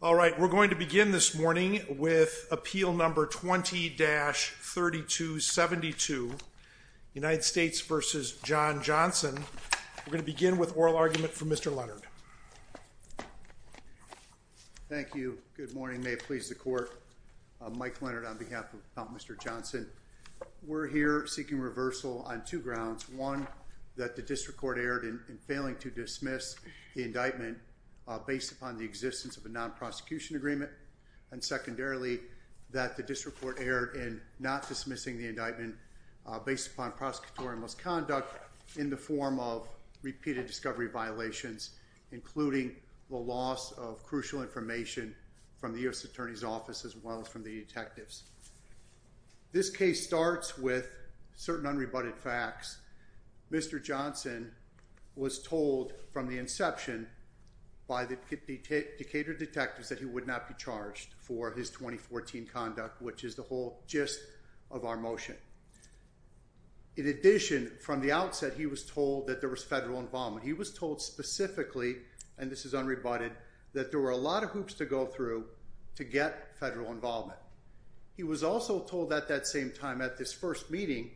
All right, we're going to begin this morning with appeal number 20-3272 United States v. John Johnson. We're going to begin with oral argument from Mr. Leonard Thank you, good morning may it please the court Mike Leonard on behalf of Mr. Johnson We're here seeking reversal on two grounds one that the district court erred in failing to dismiss the indictment based upon the existence of a non-prosecution agreement and secondarily that the district court erred in not dismissing the indictment based upon prosecutorial misconduct in the form of repeated discovery violations Including the loss of crucial information from the US Attorney's Office as well as from the detectives This case starts with certain unrebutted facts Mr. Johnson Was told from the inception By the Decatur detectives that he would not be charged for his 2014 conduct Which is the whole gist of our motion In addition from the outset, he was told that there was federal involvement He was told specifically and this is unrebutted that there were a lot of hoops to go through to get federal involvement He was also told at that same time at this first meeting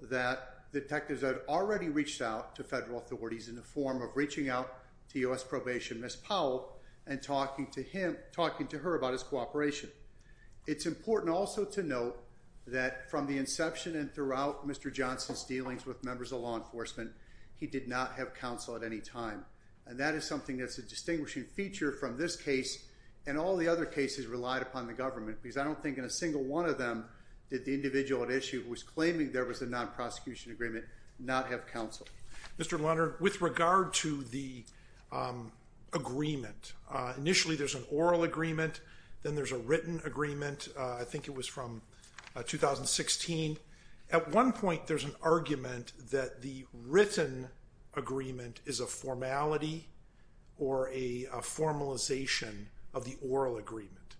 That Detectives had already reached out to federal authorities in the form of reaching out to us probation miss Powell and talking to him Talking to her about his cooperation It's important also to note that from the inception and throughout. Mr. Johnson's dealings with members of law enforcement He did not have counsel at any time And that is something that's a distinguishing feature from this case and all the other cases relied upon the government because I don't think in a Non-prosecution agreement not have counsel. Mr. Leonard with regard to the Agreement initially, there's an oral agreement. Then there's a written agreement. I think it was from 2016 at one point. There's an argument that the written agreement is a formality or a Formalization of the oral agreement.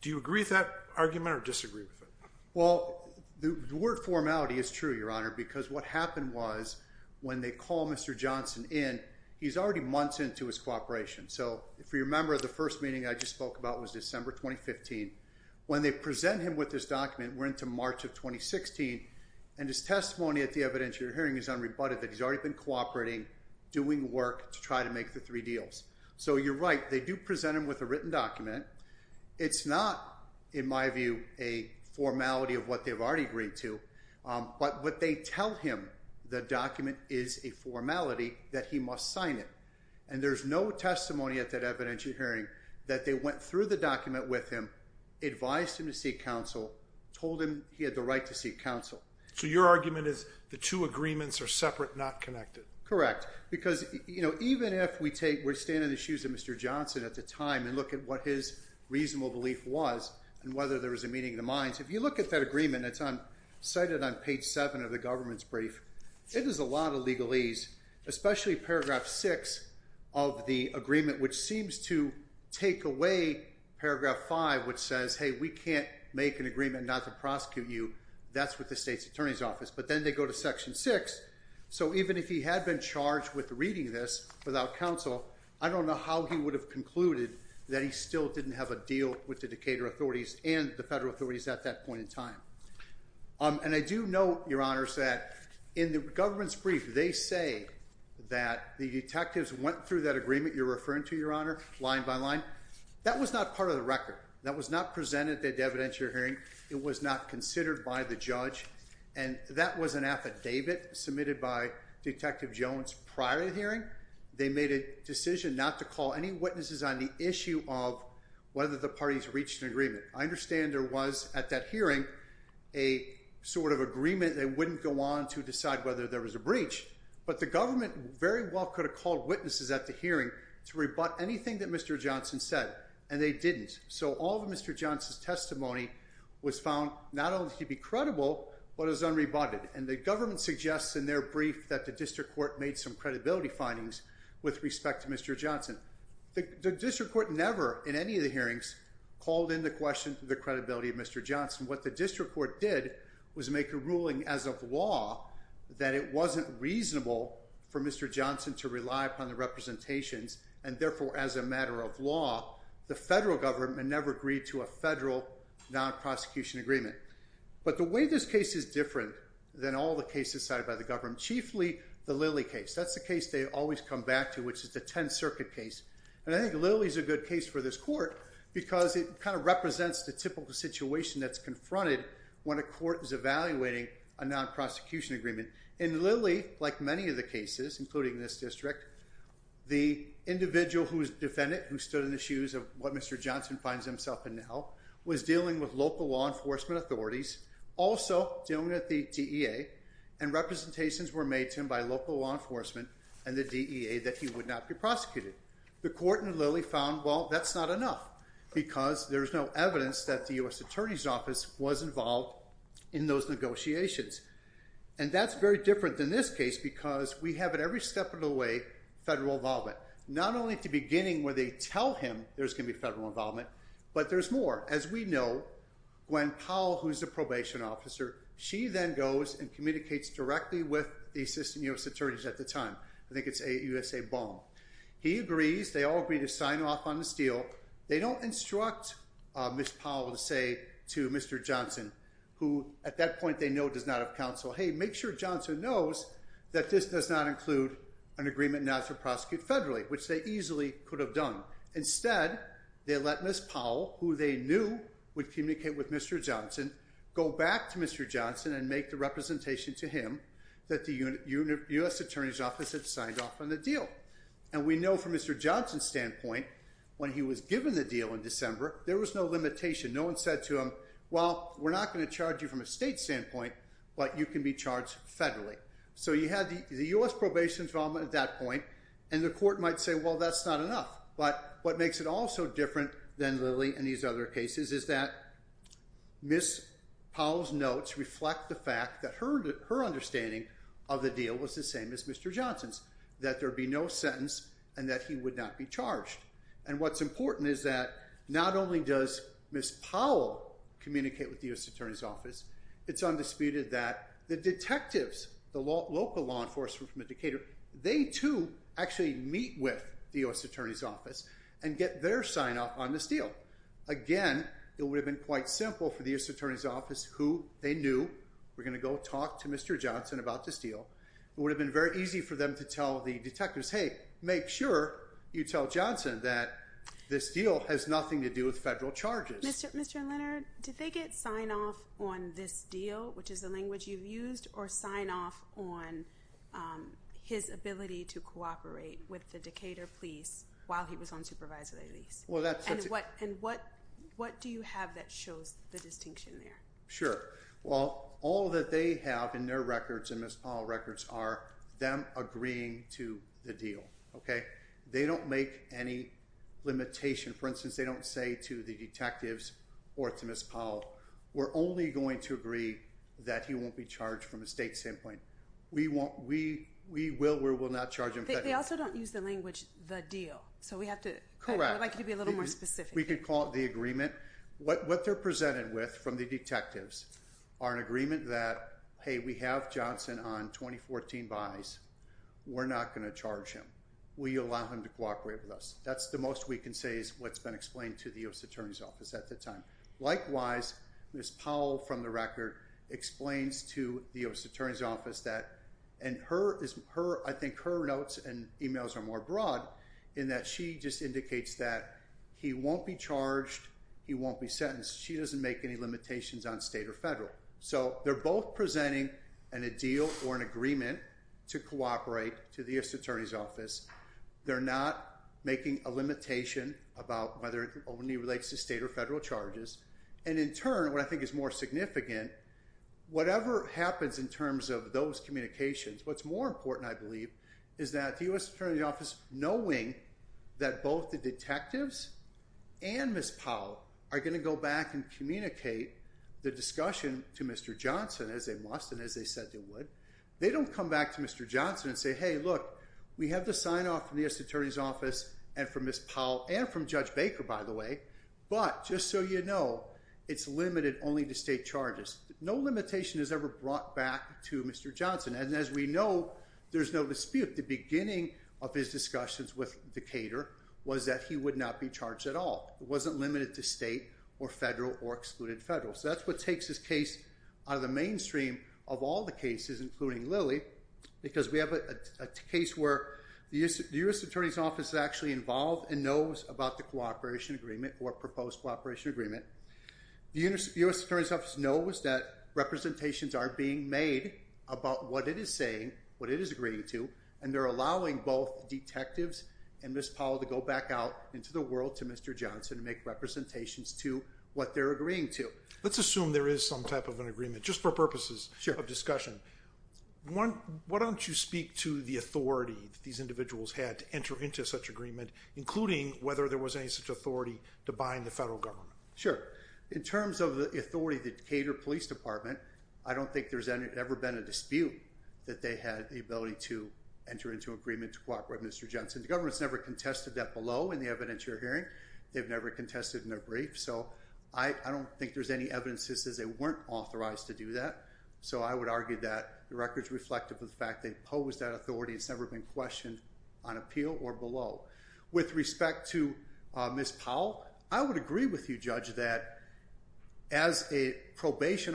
Do you agree with that argument or disagree with it? The word formality is true your honor because what happened was when they call mr. Johnson in he's already months into his cooperation So if we remember the first meeting I just spoke about was December 2015 when they present him with this document We're into March of 2016 and his testimony at the evidence You're hearing is unrebutted that he's already been cooperating doing work to try to make the three deals. So you're right They do present him with a written document it's not in my view a Formality of what they've already agreed to But what they tell him the document is a formality that he must sign it and there's no Testimony at that evidentiary hearing that they went through the document with him Advised him to seek counsel told him he had the right to seek counsel So your argument is the two agreements are separate not connected, correct? Because you know, even if we take we're standing the shoes of mr Johnson at the time and look at what his Reasonable belief was and whether there was a meeting of the minds if you look at that agreement It's on cited on page 7 of the government's brief. It is a lot of legalese especially paragraph 6 of The agreement which seems to take away Paragraph 5 which says hey, we can't make an agreement not to prosecute you That's what the state's attorney's office, but then they go to section 6 So even if he had been charged with reading this without counsel I don't know how he would have concluded That he still didn't have a deal with the Decatur authorities and the federal authorities at that point in time And I do know your honors that in the government's brief. They say that the detectives went through that agreement You're referring to your honor line by line. That was not part of the record. That was not presented It was not considered by the judge and that was an affidavit submitted by Detective Jones prior to the hearing they made a decision not to call any witnesses on the issue of whether the parties reached an agreement, I understand there was at that hearing a Sort of agreement. They wouldn't go on to decide whether there was a breach But the government very well could have called witnesses at the hearing to rebut anything that mr Johnson said and they didn't so all the mr Johnson's testimony was found not only to be credible But it was unrebutted and the government suggests in their brief that the district court made some credibility findings with respect to mr Johnson the district court never in any of the hearings called in the question to the credibility of mr Johnson what the district court did was make a ruling as of law that it wasn't reasonable For mr. Johnson to rely upon the representations and therefore as a matter of law the federal government never agreed to a federal Non-prosecution agreement, but the way this case is different than all the cases cited by the government chiefly the Lilly case That's the case They always come back to which is the Tenth Circuit case and I think Lily's a good case for this court Because it kind of represents the typical situation that's confronted when a court is evaluating a non-prosecution agreement in Lily like many of the cases including this district the Individual who is defendant who stood in the shoes of what mr. Johnson finds himself in now was dealing with local law enforcement authorities also dealing at the DEA and Representations were made to him by local law enforcement and the DEA that he would not be prosecuted The court in Lily found well, that's not enough because there's no evidence that the US Attorney's Office was involved in those Negotiations and that's very different than this case because we have it every step of the way Federal involvement not only at the beginning where they tell him there's gonna be federal involvement, but there's more as we know When Powell who's the probation officer? She then goes and communicates directly with the assistant US attorneys at the time. I think it's a USA bomb He agrees. They all agree to sign off on the steel. They don't instruct Miss Powell to say to mr. Johnson who at that point they know does not have counsel Hey, make sure Johnson knows that this does not include an agreement not to prosecute federally, which they easily could have done instead They let miss Powell who they knew would communicate with. Mr. Johnson go back to mr Johnson and make the representation to him that the unit unit US Attorney's Office had signed off on the deal and we know from mr Johnson standpoint when he was given the deal in December, there was no limitation No one said to him. Well, we're not going to charge you from a state standpoint, but you can be charged federally So you had the US probation involvement at that point and the court might say well, that's not enough But what makes it all so different than Lily and these other cases is that? Miss Powell's notes reflect the fact that her her understanding of the deal was the same as mr Johnson's that there be no sentence and that he would not be charged and what's important is that not only does miss Powell Communicate with the US Attorney's Office It's undisputed that the detectives the law local law enforcement from the Decatur They to actually meet with the US Attorney's Office and get their sign up on this deal Again, it would have been quite simple for the US Attorney's Office who they knew we're gonna go talk to mr Johnson about this deal it would have been very easy for them to tell the detectives Hey, make sure you tell Johnson that this deal has nothing to do with federal charges Mr. Mr. Leonard, did they get sign off on this deal, which is the language you've used or sign off on His ability to cooperate with the Decatur police while he was on supervisory lease Well, that's what and what what do you have that shows the distinction there? Well all that they have in their records and miss Powell records are them agreeing to the deal Okay, they don't make any Limitation for instance, they don't say to the detectives or to miss Powell We're only going to agree that he won't be charged from a state standpoint We won't we we will we will not charge him. They also don't use the language the deal So we have to correct like it'd be a little more specific. We could call it the agreement What what they're presented with from the detectives are an agreement that hey we have Johnson on 2014 buys We're not going to charge him. Will you allow him to cooperate with us? That's the most we can say is what's been explained to the US Attorney's Office at the time likewise miss Powell from the record Explains to the US Attorney's Office that and her is her I think her notes and emails are more broad in that. She just indicates that he won't be charged He won't be sentenced. She doesn't make any limitations on state or federal So they're both presenting and a deal or an agreement to cooperate to the US Attorney's Office They're not making a limitation about whether it only relates to state or federal charges and in turn what I think is more significant Whatever happens in terms of those communications. What's more important? I believe is that the US Attorney's Office knowing that both the detectives and Miss Powell are going to go back and communicate the discussion to mr Johnson as they must and as they said they would they don't come back to mr Johnson and say hey look We have the sign off from the US Attorney's Office and from miss Powell and from judge Baker by the way But just so you know, it's limited only to state charges. No limitation has ever brought back to mr Johnson and as we know There's no dispute the beginning of his discussions with the caterer was that he would not be charged at all Wasn't limited to state or federal or excluded federal so that's what takes this case out of the mainstream of all the cases including Lily because we have a Case where the US Attorney's Office is actually involved and knows about the cooperation agreement or proposed cooperation agreement The universe US Attorney's Office knows that Representations are being made about what it is saying what it is agreeing to and they're allowing both Detectives and miss Powell to go back out into the world to mr. Johnson to make representations to what they're agreeing to let's assume there is some type of an agreement just for purposes sure of discussion One what don't you speak to the authority these individuals had to enter into such agreement? Including whether there was any such authority to bind the federal government. Sure in terms of the authority that cater police department I don't think there's any ever been a dispute that they had the ability to Enter into agreement to cooperate. Mr. Johnson. The government's never contested that below in the evidence. You're hearing They've never contested in their brief. So I don't think there's any evidence. This is they weren't authorized to do that So I would argue that the records reflective of the fact they posed that authority It's never been questioned on appeal or below with respect to miss Powell. I would agree with you judge that as a Group that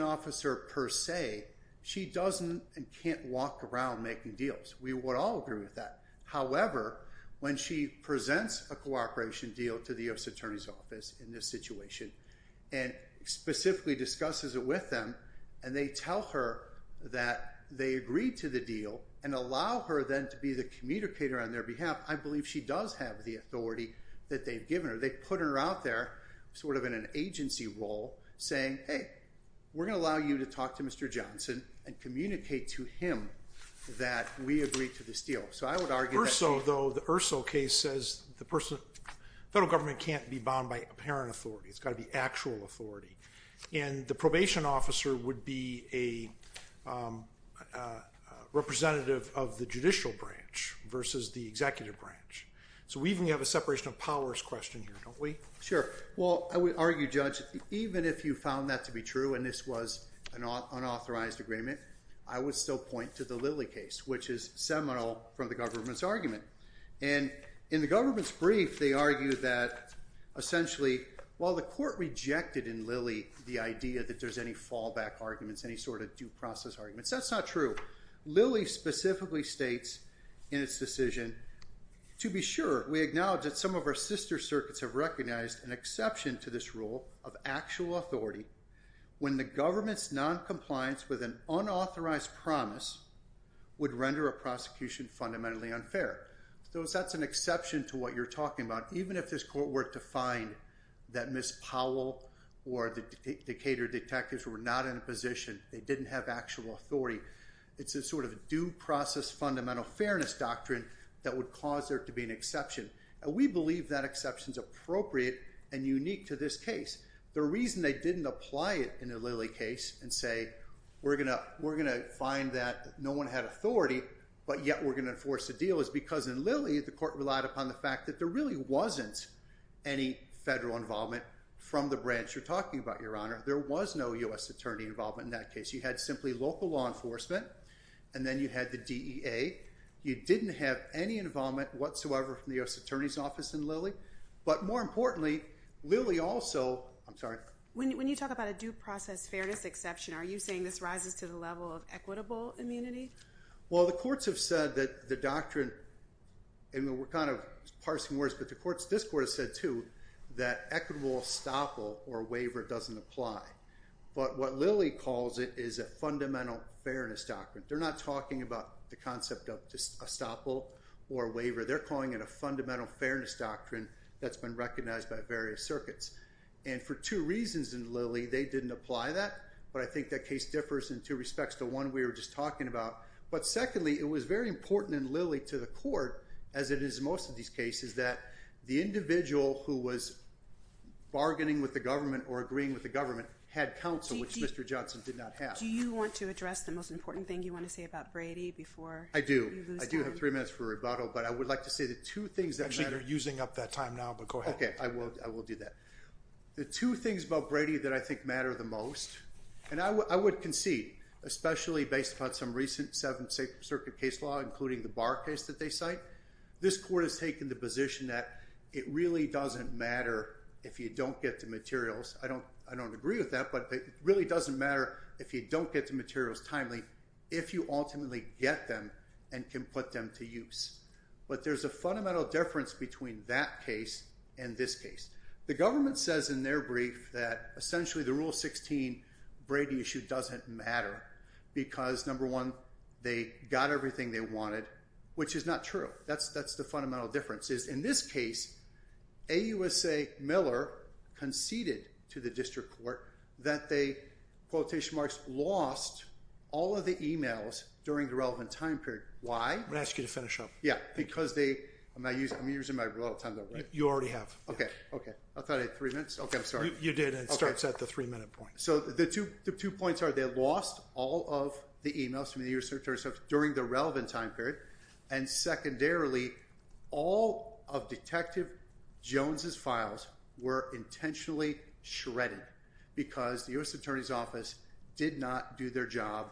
however when she presents a cooperation deal to the U.S. Attorney's office in this situation and Specifically discusses it with them and they tell her that they agreed to the deal and allow her then to be the Communicator on their behalf. I believe she does have the authority that they've given her They put her out there sort of in an agency role saying hey, we're gonna allow you to talk to mr Johnson and communicate to him that we agree to this deal So I would argue so though the urso case says the person federal government can't be bound by apparent authority it's got to be actual authority and the probation officer would be a Representative of the judicial branch versus the executive branch So we even have a separation of powers question here, don't we? Sure Well, I would argue judge even if you found that to be true and this was an unauthorized agreement I would still point to the Lily case, which is seminal from the government's argument and in the government's brief. They argue that Essentially while the court rejected in Lily the idea that there's any fallback arguments any sort of due process arguments. That's not true Lily specifically states in its decision To be sure we acknowledge that some of our sister circuits have recognized an exception to this rule of actual authority When the government's non-compliance with an unauthorized promise Would render a prosecution fundamentally unfair those that's an exception to what you're talking about Even if this court were to find that miss Powell or the Decatur detectives were not in a position They didn't have actual authority It's a sort of due process fundamental fairness doctrine that would cause there to be an exception and we believe that exceptions Appropriate and unique to this case The reason they didn't apply it in a Lily case and say we're gonna we're gonna find that no one had authority But yet we're gonna enforce the deal is because in Lily the court relied upon the fact that there really wasn't any Federal involvement from the branch you're talking about your honor. There was no u.s Attorney involvement in that case. You had simply local law enforcement and then you had the DEA You didn't have any involvement whatsoever from the US Attorney's Office in Lily, but more importantly Lily also I'm sorry when you talk about a due process fairness exception. Are you saying this rises to the level of equitable immunity? Well, the courts have said that the doctrine And we're kind of parsing words, but the courts this court has said to that equitable stopple or waiver doesn't apply But what Lily calls it is a fundamental fairness doctrine They're not talking about the concept of just a stopple or waiver They're calling it a fundamental fairness doctrine that's been recognized by various circuits and for two reasons in Lily They didn't apply that but I think that case differs in two respects to one. We were just talking about but secondly it was very important in Lily to the court as it is most of these cases that the individual who was Bargaining with the government or agreeing with the government had counsel which mr. Johnson did not have do you want to address the most important thing you want to say about Brady before I do I do have three minutes for rebuttal, but I would like to say the two things that matter using up that time now But go ahead. Okay, I will I will do that The two things about Brady that I think matter the most and I would concede Especially based upon some recent Seventh Circuit case law including the bar case that they cite This court has taken the position that it really doesn't matter if you don't get to materials I don't I don't agree with that But it really doesn't matter if you don't get to materials timely if you ultimately get them and can put them to use But there's a fundamental difference between that case in this case The government says in their brief that essentially the rule 16 Brady issue doesn't matter Because number one they got everything they wanted which is not true that's that's the fundamental difference is in this case a USA Miller conceded to the district court that they Quotation marks lost all of the emails during the relevant time period why I'm gonna ask you to finish up Yeah, because they I'm not using I'm using my real time though. You already have. Okay. Okay. I thought it three minutes Okay, I'm sorry You did and it starts at the three-minute point so the two the two points are they lost all of the emails from the year search or stuff during the relevant time period and Secondarily all of Detective Jones's files were intentionally shredded Because the US Attorney's Office did not do their job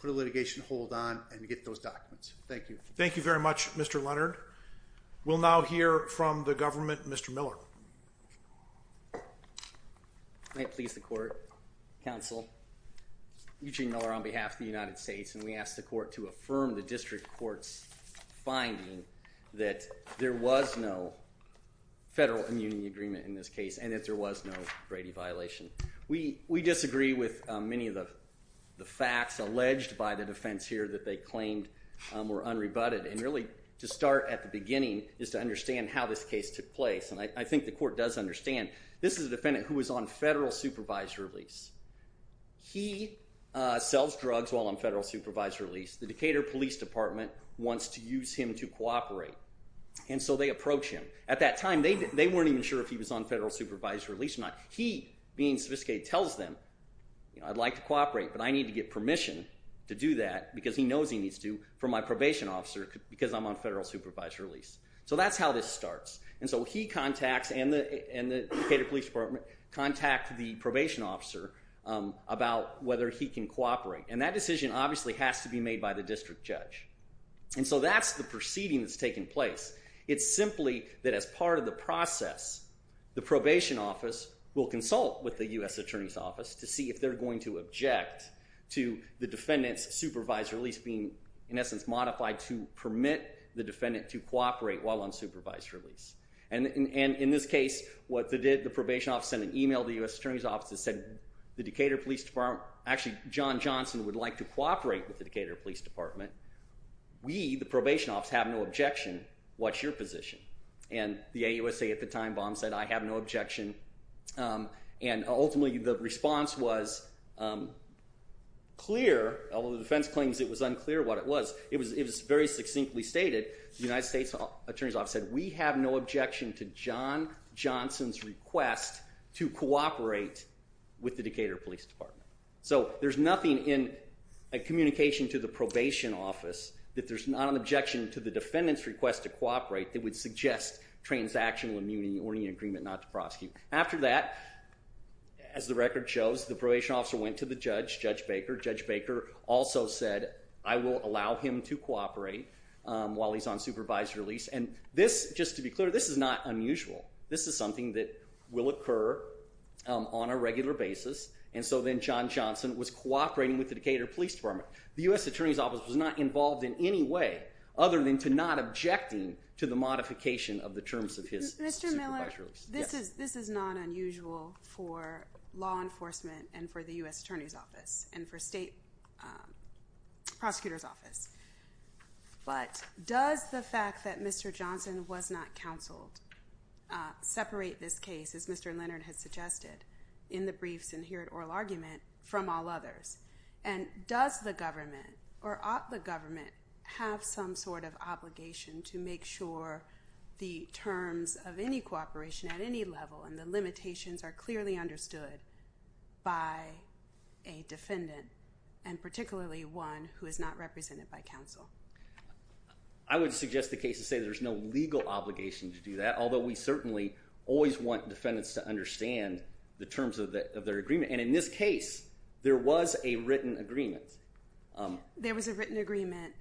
put a litigation hold on and get those documents. Thank you Thank you very much. Mr. Leonard We'll now hear from the government. Mr. Miller May it please the court counsel Eugene Miller on behalf of the United States and we asked the court to affirm the district courts Finding that there was no Federal immunity agreement in this case and if there was no Brady violation We we disagree with many of the the facts alleged by the defense here that they claimed Were unrebutted and really to start at the beginning is to understand how this case took place And I think the court does understand. This is a defendant who was on federal supervised release he Sells drugs while I'm federal supervised release the Decatur Police Department wants to use him to cooperate And so they approach him at that time. They weren't even sure if he was on federal supervised release or not He being sophisticated tells them You know I'd like to cooperate but I need to get permission to do that because he knows he needs to for my probation officer because I'm On federal supervised release. So that's how this starts And so he contacts and the and the police department contact the probation officer About whether he can cooperate and that decision obviously has to be made by the district judge And so that's the proceeding that's taken place It's simply that as part of the process The probation office will consult with the US Attorney's Office to see if they're going to object to the defendants supervised release being in essence modified to Permit the defendant to cooperate while on supervised release and and in this case What they did the probation office sent an email the US Attorney's Office said the Decatur Police Department Actually, John Johnson would like to cooperate with the Decatur Police Department We the probation office have no objection. What's your position? And the AUSA at the time bomb said I have no objection and ultimately the response was Clear although the defense claims it was unclear what it was It was it was very succinctly stated the United States Attorney's Office said we have no objection to John Johnson's request to cooperate with the Decatur Police Department so there's nothing in a Communication to the probation office that there's not an objection to the defendants request to cooperate that would suggest Transactional immunity or any agreement not to prosecute after that As the record shows the probation officer went to the judge judge Baker judge Baker also said I will allow him to cooperate While he's on supervised release and this just to be clear. This is not unusual This is something that will occur on a regular basis And so then John Johnson was cooperating with the Decatur Police Department The US Attorney's Office was not involved in any way other than to not objecting to the modification of the terms of his This is this is not unusual for law enforcement and for the US Attorney's Office and for state Prosecutors office But does the fact that mr. Johnson was not counseled Separate this case as mr. Leonard has suggested in the briefs and here at oral argument from all others and Does the government or ought the government have some sort of obligation to make sure? the terms of any cooperation at any level and the limitations are clearly understood by a Defendant and particularly one who is not represented by counsel. I Always want defendants to understand the terms of their agreement and in this case there was a written agreement There was a written agreement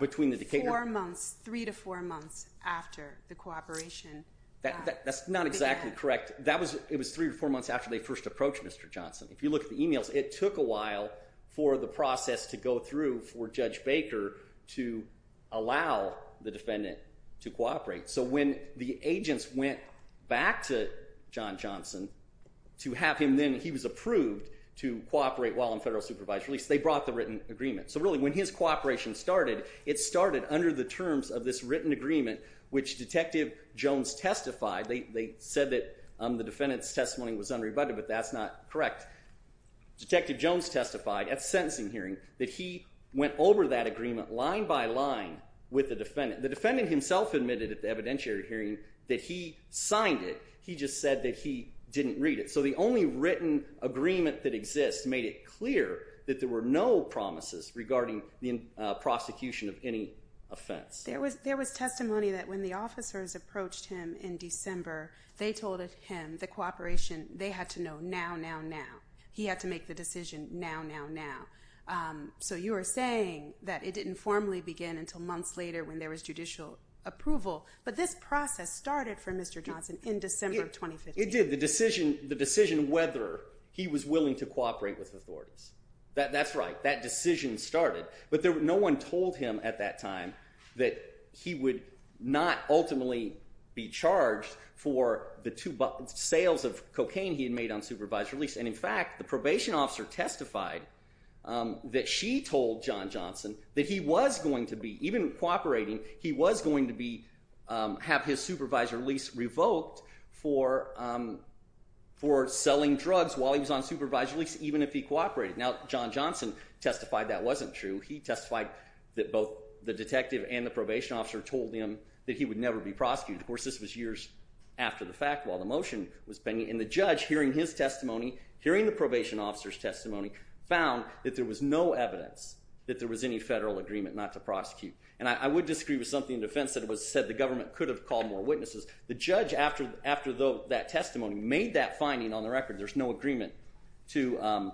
Between the Decatur months three to four months after the cooperation That's not exactly correct. That was it was three or four months after they first approached. Mr. Johnson if you look at the emails it took a while for the process to go through for judge Baker to Allow the defendant to cooperate So when the agents went back to John Johnson To have him then he was approved to cooperate while I'm federal supervisor. At least they brought the written agreement So really when his cooperation started it started under the terms of this written agreement, which detective Jones testified They said that the defendants testimony was unrebutted, but that's not correct Detective Jones testified at sentencing hearing that he went over that agreement line by line With the defendant the defendant himself admitted at the evidentiary hearing that he signed it He just said that he didn't read it so the only written agreement that exists made it clear that there were no promises regarding the Prosecution of any offense there was there was testimony that when the officers approached him in December They told it him the cooperation. They had to know now now now he had to make the decision now now now So you are saying that it didn't formally begin until months later when there was judicial approval But this process started for mr. Johnson in December of 2015 It did the decision the decision whether he was willing to cooperate with authorities that that's right that decision started But there were no one told him at that time that he would not ultimately Be charged for the two sales of cocaine he had made on supervised release and in fact the probation officer testified That she told John Johnson that he was going to be even cooperating. He was going to be have his supervisor lease revoked for For selling drugs while he was on supervised release even if he cooperated now John Johnson testified that wasn't true He testified that both the detective and the probation officer told him that he would never be prosecuted of course this was years After the fact while the motion was pending in the judge hearing his testimony hearing the probation officers testimony found that there was no evidence that there was any federal agreement not to prosecute and I would disagree with something in defense that it Was said the government could have called more witnesses the judge after after though that testimony made that finding on the record there's no agreement to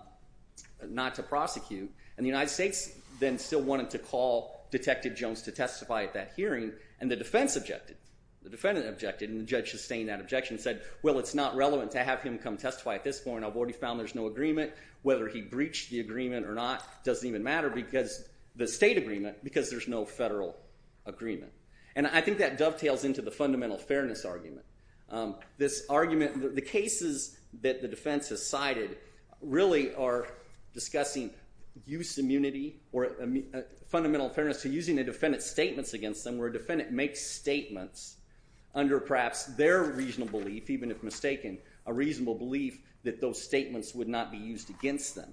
Not to prosecute and the United States then still wanted to call Detective Jones to testify at that hearing and the defense objected the defendant objected and the judge sustained that objection said well It's not relevant to have him come testify at this point I've already found there's no agreement whether he breached the agreement or not doesn't even matter because the state agreement because there's no federal Agreement, and I think that dovetails into the fundamental fairness argument This argument the cases that the defense has cited really are discussing use immunity or Fundamental fairness to using the defendant's statements against them where a defendant makes statements Under perhaps their reasonable if even if mistaken a reasonable belief that those statements would not be used against them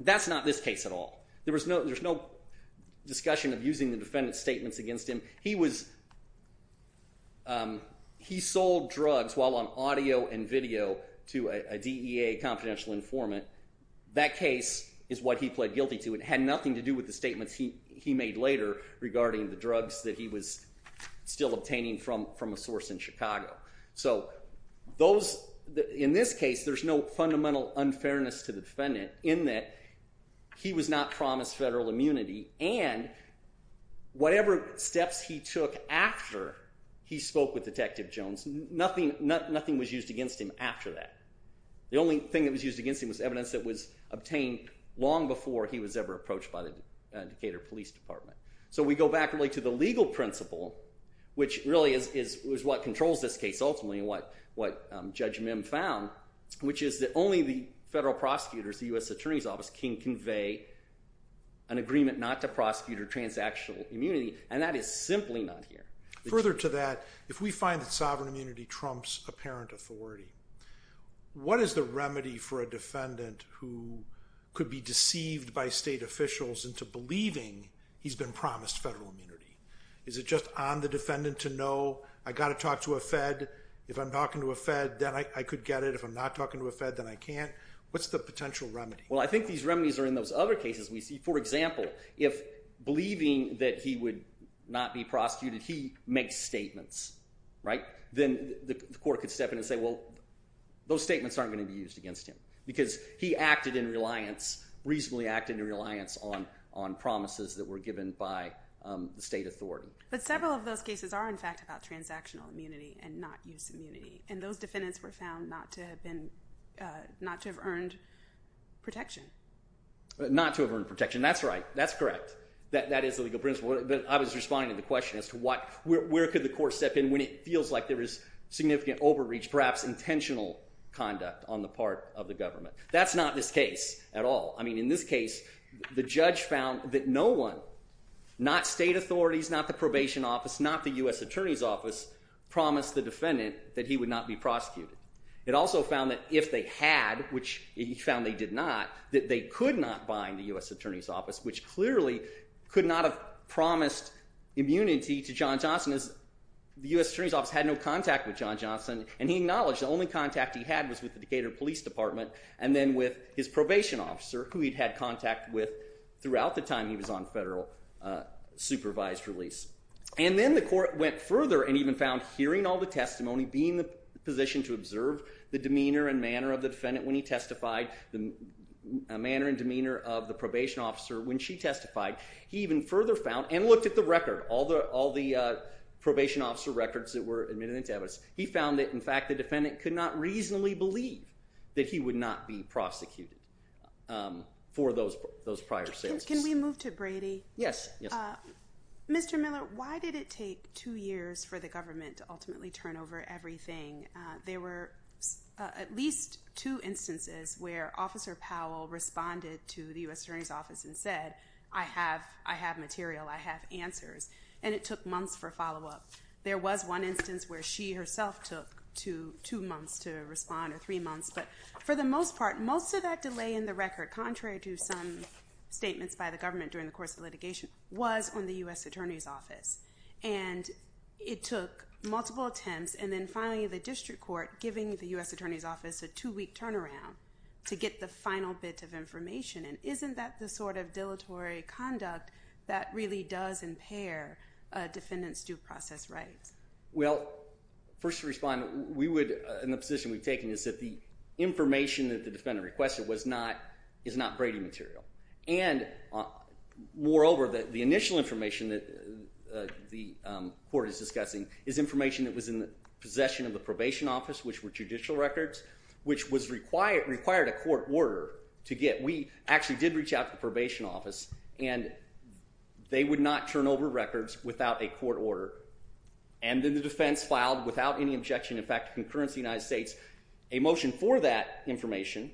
That's not this case at all. There was no there's no discussion of using the defendant's statements against him he was He sold drugs while on audio and video to a DEA confidential informant That case is what he pled guilty to it had nothing to do with the statements He he made later regarding the drugs that he was still obtaining from from a source in Chicago So those in this case, there's no fundamental unfairness to the defendant in that he was not promised federal immunity and Whatever steps he took after he spoke with detective Jones nothing nothing was used against him after that The only thing that was used against him was evidence that was obtained long before he was ever approached by the Decatur Police Department, so we go back really to the legal principle Which really is is what controls this case ultimately what what Judge Mim found? which is that only the federal prosecutors the US Attorney's Office can convey an Agreement not to prosecute or transactional immunity and that is simply not here further to that if we find that sovereign immunity trumps apparent authority What is the remedy for a defendant who? Could be deceived by state officials into believing he's been promised federal immunity Is it just on the defendant to know I got to talk to a Fed if I'm talking to a Fed then I could get It if I'm not talking to a Fed then I can't what's the potential remedy? Well, I think these remedies are in those other cases we see for example if Believing that he would not be prosecuted he makes statements right then the court could step in and say well Those statements aren't going to be used against him because he acted in reliance Reasonably acted in reliance on on promises that were given by the state authority But several of those cases are in fact about transactional immunity and not use immunity and those defendants were found not to have been Not to have earned protection Not to have earned protection. That's right. That's correct that that is the legal principle that I was responding to the question as to what where could the court step in when it feels Like there is significant overreach perhaps intentional conduct on the part of the government. That's not this case at all I mean in this case the judge found that no one Not state authorities not the probation office not the US Attorney's Office Promised the defendant that he would not be prosecuted It also found that if they had which he found they did not that they could not bind the US Attorney's Office Which clearly could not have promised immunity to John Johnson as The US Attorney's Office had no contact with John Johnson and he acknowledged the only contact he had was with the Decatur Police Department And then with his probation officer who he'd had contact with throughout the time. He was on federal Supervised release and then the court went further and even found hearing all the testimony being the position to observe the demeanor and manner of the defendant when he testified the manner and demeanor of the probation officer when she testified he even further found and looked at the record all the all the Probation officer records that were admitted into evidence. He found that in fact the defendant could not reasonably believe that he would not be prosecuted For those those prior sales, can we move to Brady? Yes Mr. Miller, why did it take two years for the government to ultimately turn over everything there were? At least two instances where officer Powell Responded to the US Attorney's Office and said I have I have material I have answers and it took months for follow-up There was one instance where she herself took to two months to respond or three months but for the most part most of that delay in the record contrary to some statements by the government during the course of litigation was on the US Attorney's Office and It took multiple attempts and then finally the district court giving the US Attorney's Office a two-week turnaround To get the final bit of information and isn't that the sort of dilatory conduct that really does impair Defendants due process rights. Well First respond we would in the position we've taken is that the information that the defendant requested was not is not Brady material and Moreover that the initial information that The court is discussing is information that was in the possession of the probation office Which were judicial records which was required required a court order to get we actually did reach out to the probation office and They would not turn over records without a court order and Then the defense filed without any objection. In fact concurrence the United States a motion for that information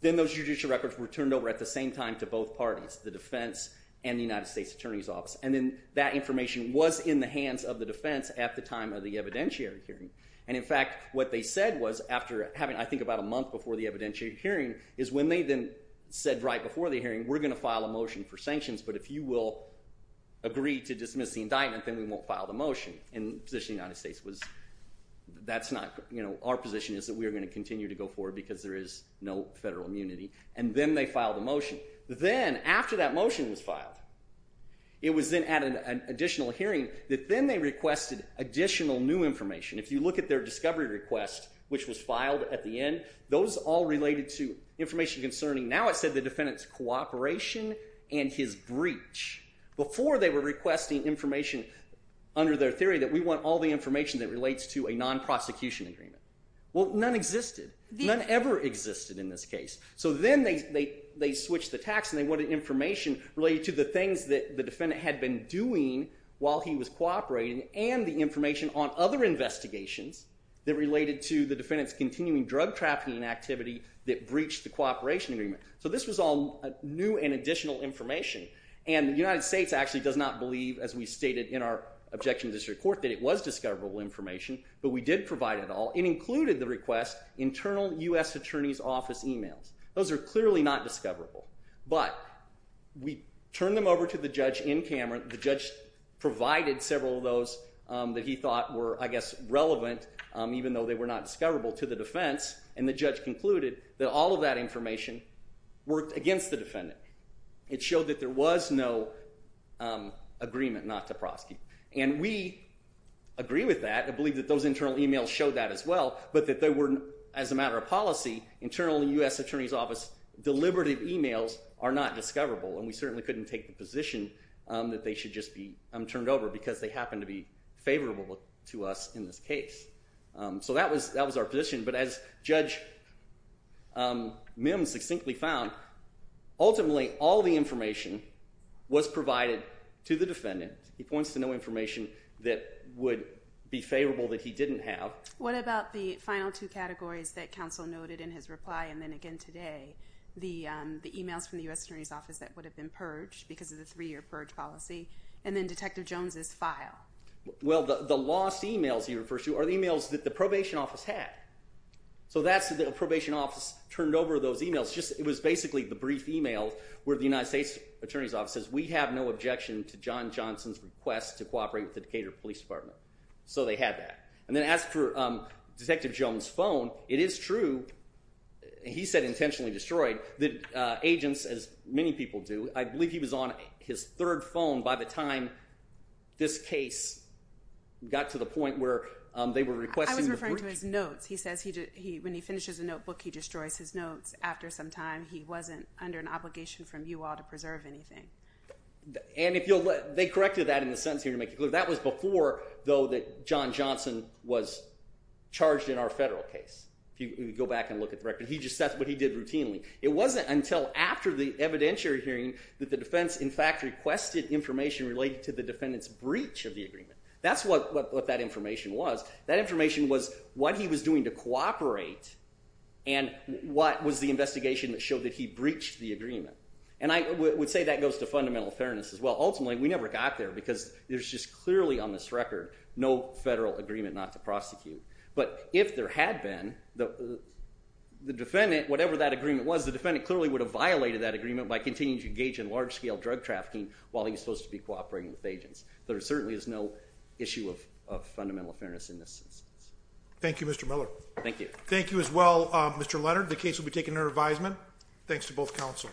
Then those judicial records were turned over at the same time to both parties the defense and the United States Attorney's Office And then that information was in the hands of the defense at the time of the evidentiary hearing and in fact What they said was after having I think about a month before the evidentiary hearing is when they then said right before the hearing We're gonna file a motion for sanctions, but if you will Agree to dismiss the indictment, then we won't file the motion in position United States was That's not you know Our position is that we are going to continue to go forward because there is no federal immunity and then they filed a motion Then after that motion was filed It was then at an additional hearing that then they requested additional new information If you look at their discovery request, which was filed at the end those all related to information concerning now I said the defendants cooperation and his breach Before they were requesting information Under their theory that we want all the information that relates to a non-prosecution agreement Well none existed none ever existed in this case So then they they switched the tax and they wanted information related to the things that the defendant had been doing While he was cooperating and the information on other investigations That related to the defendants continuing drug trafficking activity that breached the cooperation agreement So this was all new and additional information and the United States actually does not believe as we stated in our objection This report that it was discoverable information, but we did provide it all it included the request internal US Attorney's Office emails those are clearly not discoverable, but We turned them over to the judge in Cameron the judge Provided several of those that he thought were I guess relevant Even though they were not discoverable to the defense and the judge concluded that all of that information Worked against the defendant. It showed that there was no Agreement not to prosecute and we Agree with that. I believe that those internal emails showed that as well But that they were as a matter of policy internal the US Attorney's Office Deliberative emails are not discoverable and we certainly couldn't take the position That they should just be I'm turned over because they happen to be favorable to us in this case So that was that was our position. But as judge Mims succinctly found Ultimately all the information Was provided to the defendant he points to no information that would be favorable that he didn't have What about the final two categories that counsel noted in his reply and then again today? The the emails from the US Attorney's Office that would have been purged because of the three-year purge policy and then detective Jones's file Well, the lost emails he refers to are the emails that the probation office had So that's the probation office turned over those emails Just it was basically the brief emails where the United States Attorney's Office says we have no objection to John Johnson's request to cooperate with The Decatur Police Department, so they had that and then asked for Detective Jones phone it is true He said intentionally destroyed the Agents as many people do I believe he was on his third phone by the time this case Got to the point where they were requested to his notes He says he did he when he finishes a notebook he destroys his notes after some time He wasn't under an obligation from you all to preserve anything and if you'll let they corrected that in the sense here to make it clear that was before though that John Johnson was Charged in our federal case if you go back and look at the record He just says what he did routinely it wasn't until after the evidentiary hearing that the defense in fact requested Information related to the defendants breach of the agreement. That's what that information was that information was what he was doing to cooperate and What was the investigation that showed that he breached the agreement? And I would say that goes to fundamental fairness as well ultimately we never got there because there's just clearly on this record no federal agreement not to prosecute, but if there had been the the defendant whatever that agreement was the defendant clearly would have violated that agreement by continuing to engage in large-scale drug trafficking while he's Supposed to be cooperating with agents. There certainly is no issue of Fundamental fairness in this instance Thank You Mr.. Miller. Thank you. Thank you as well. Mr.. Leonard the case will be taken under advisement Thanks to both counsel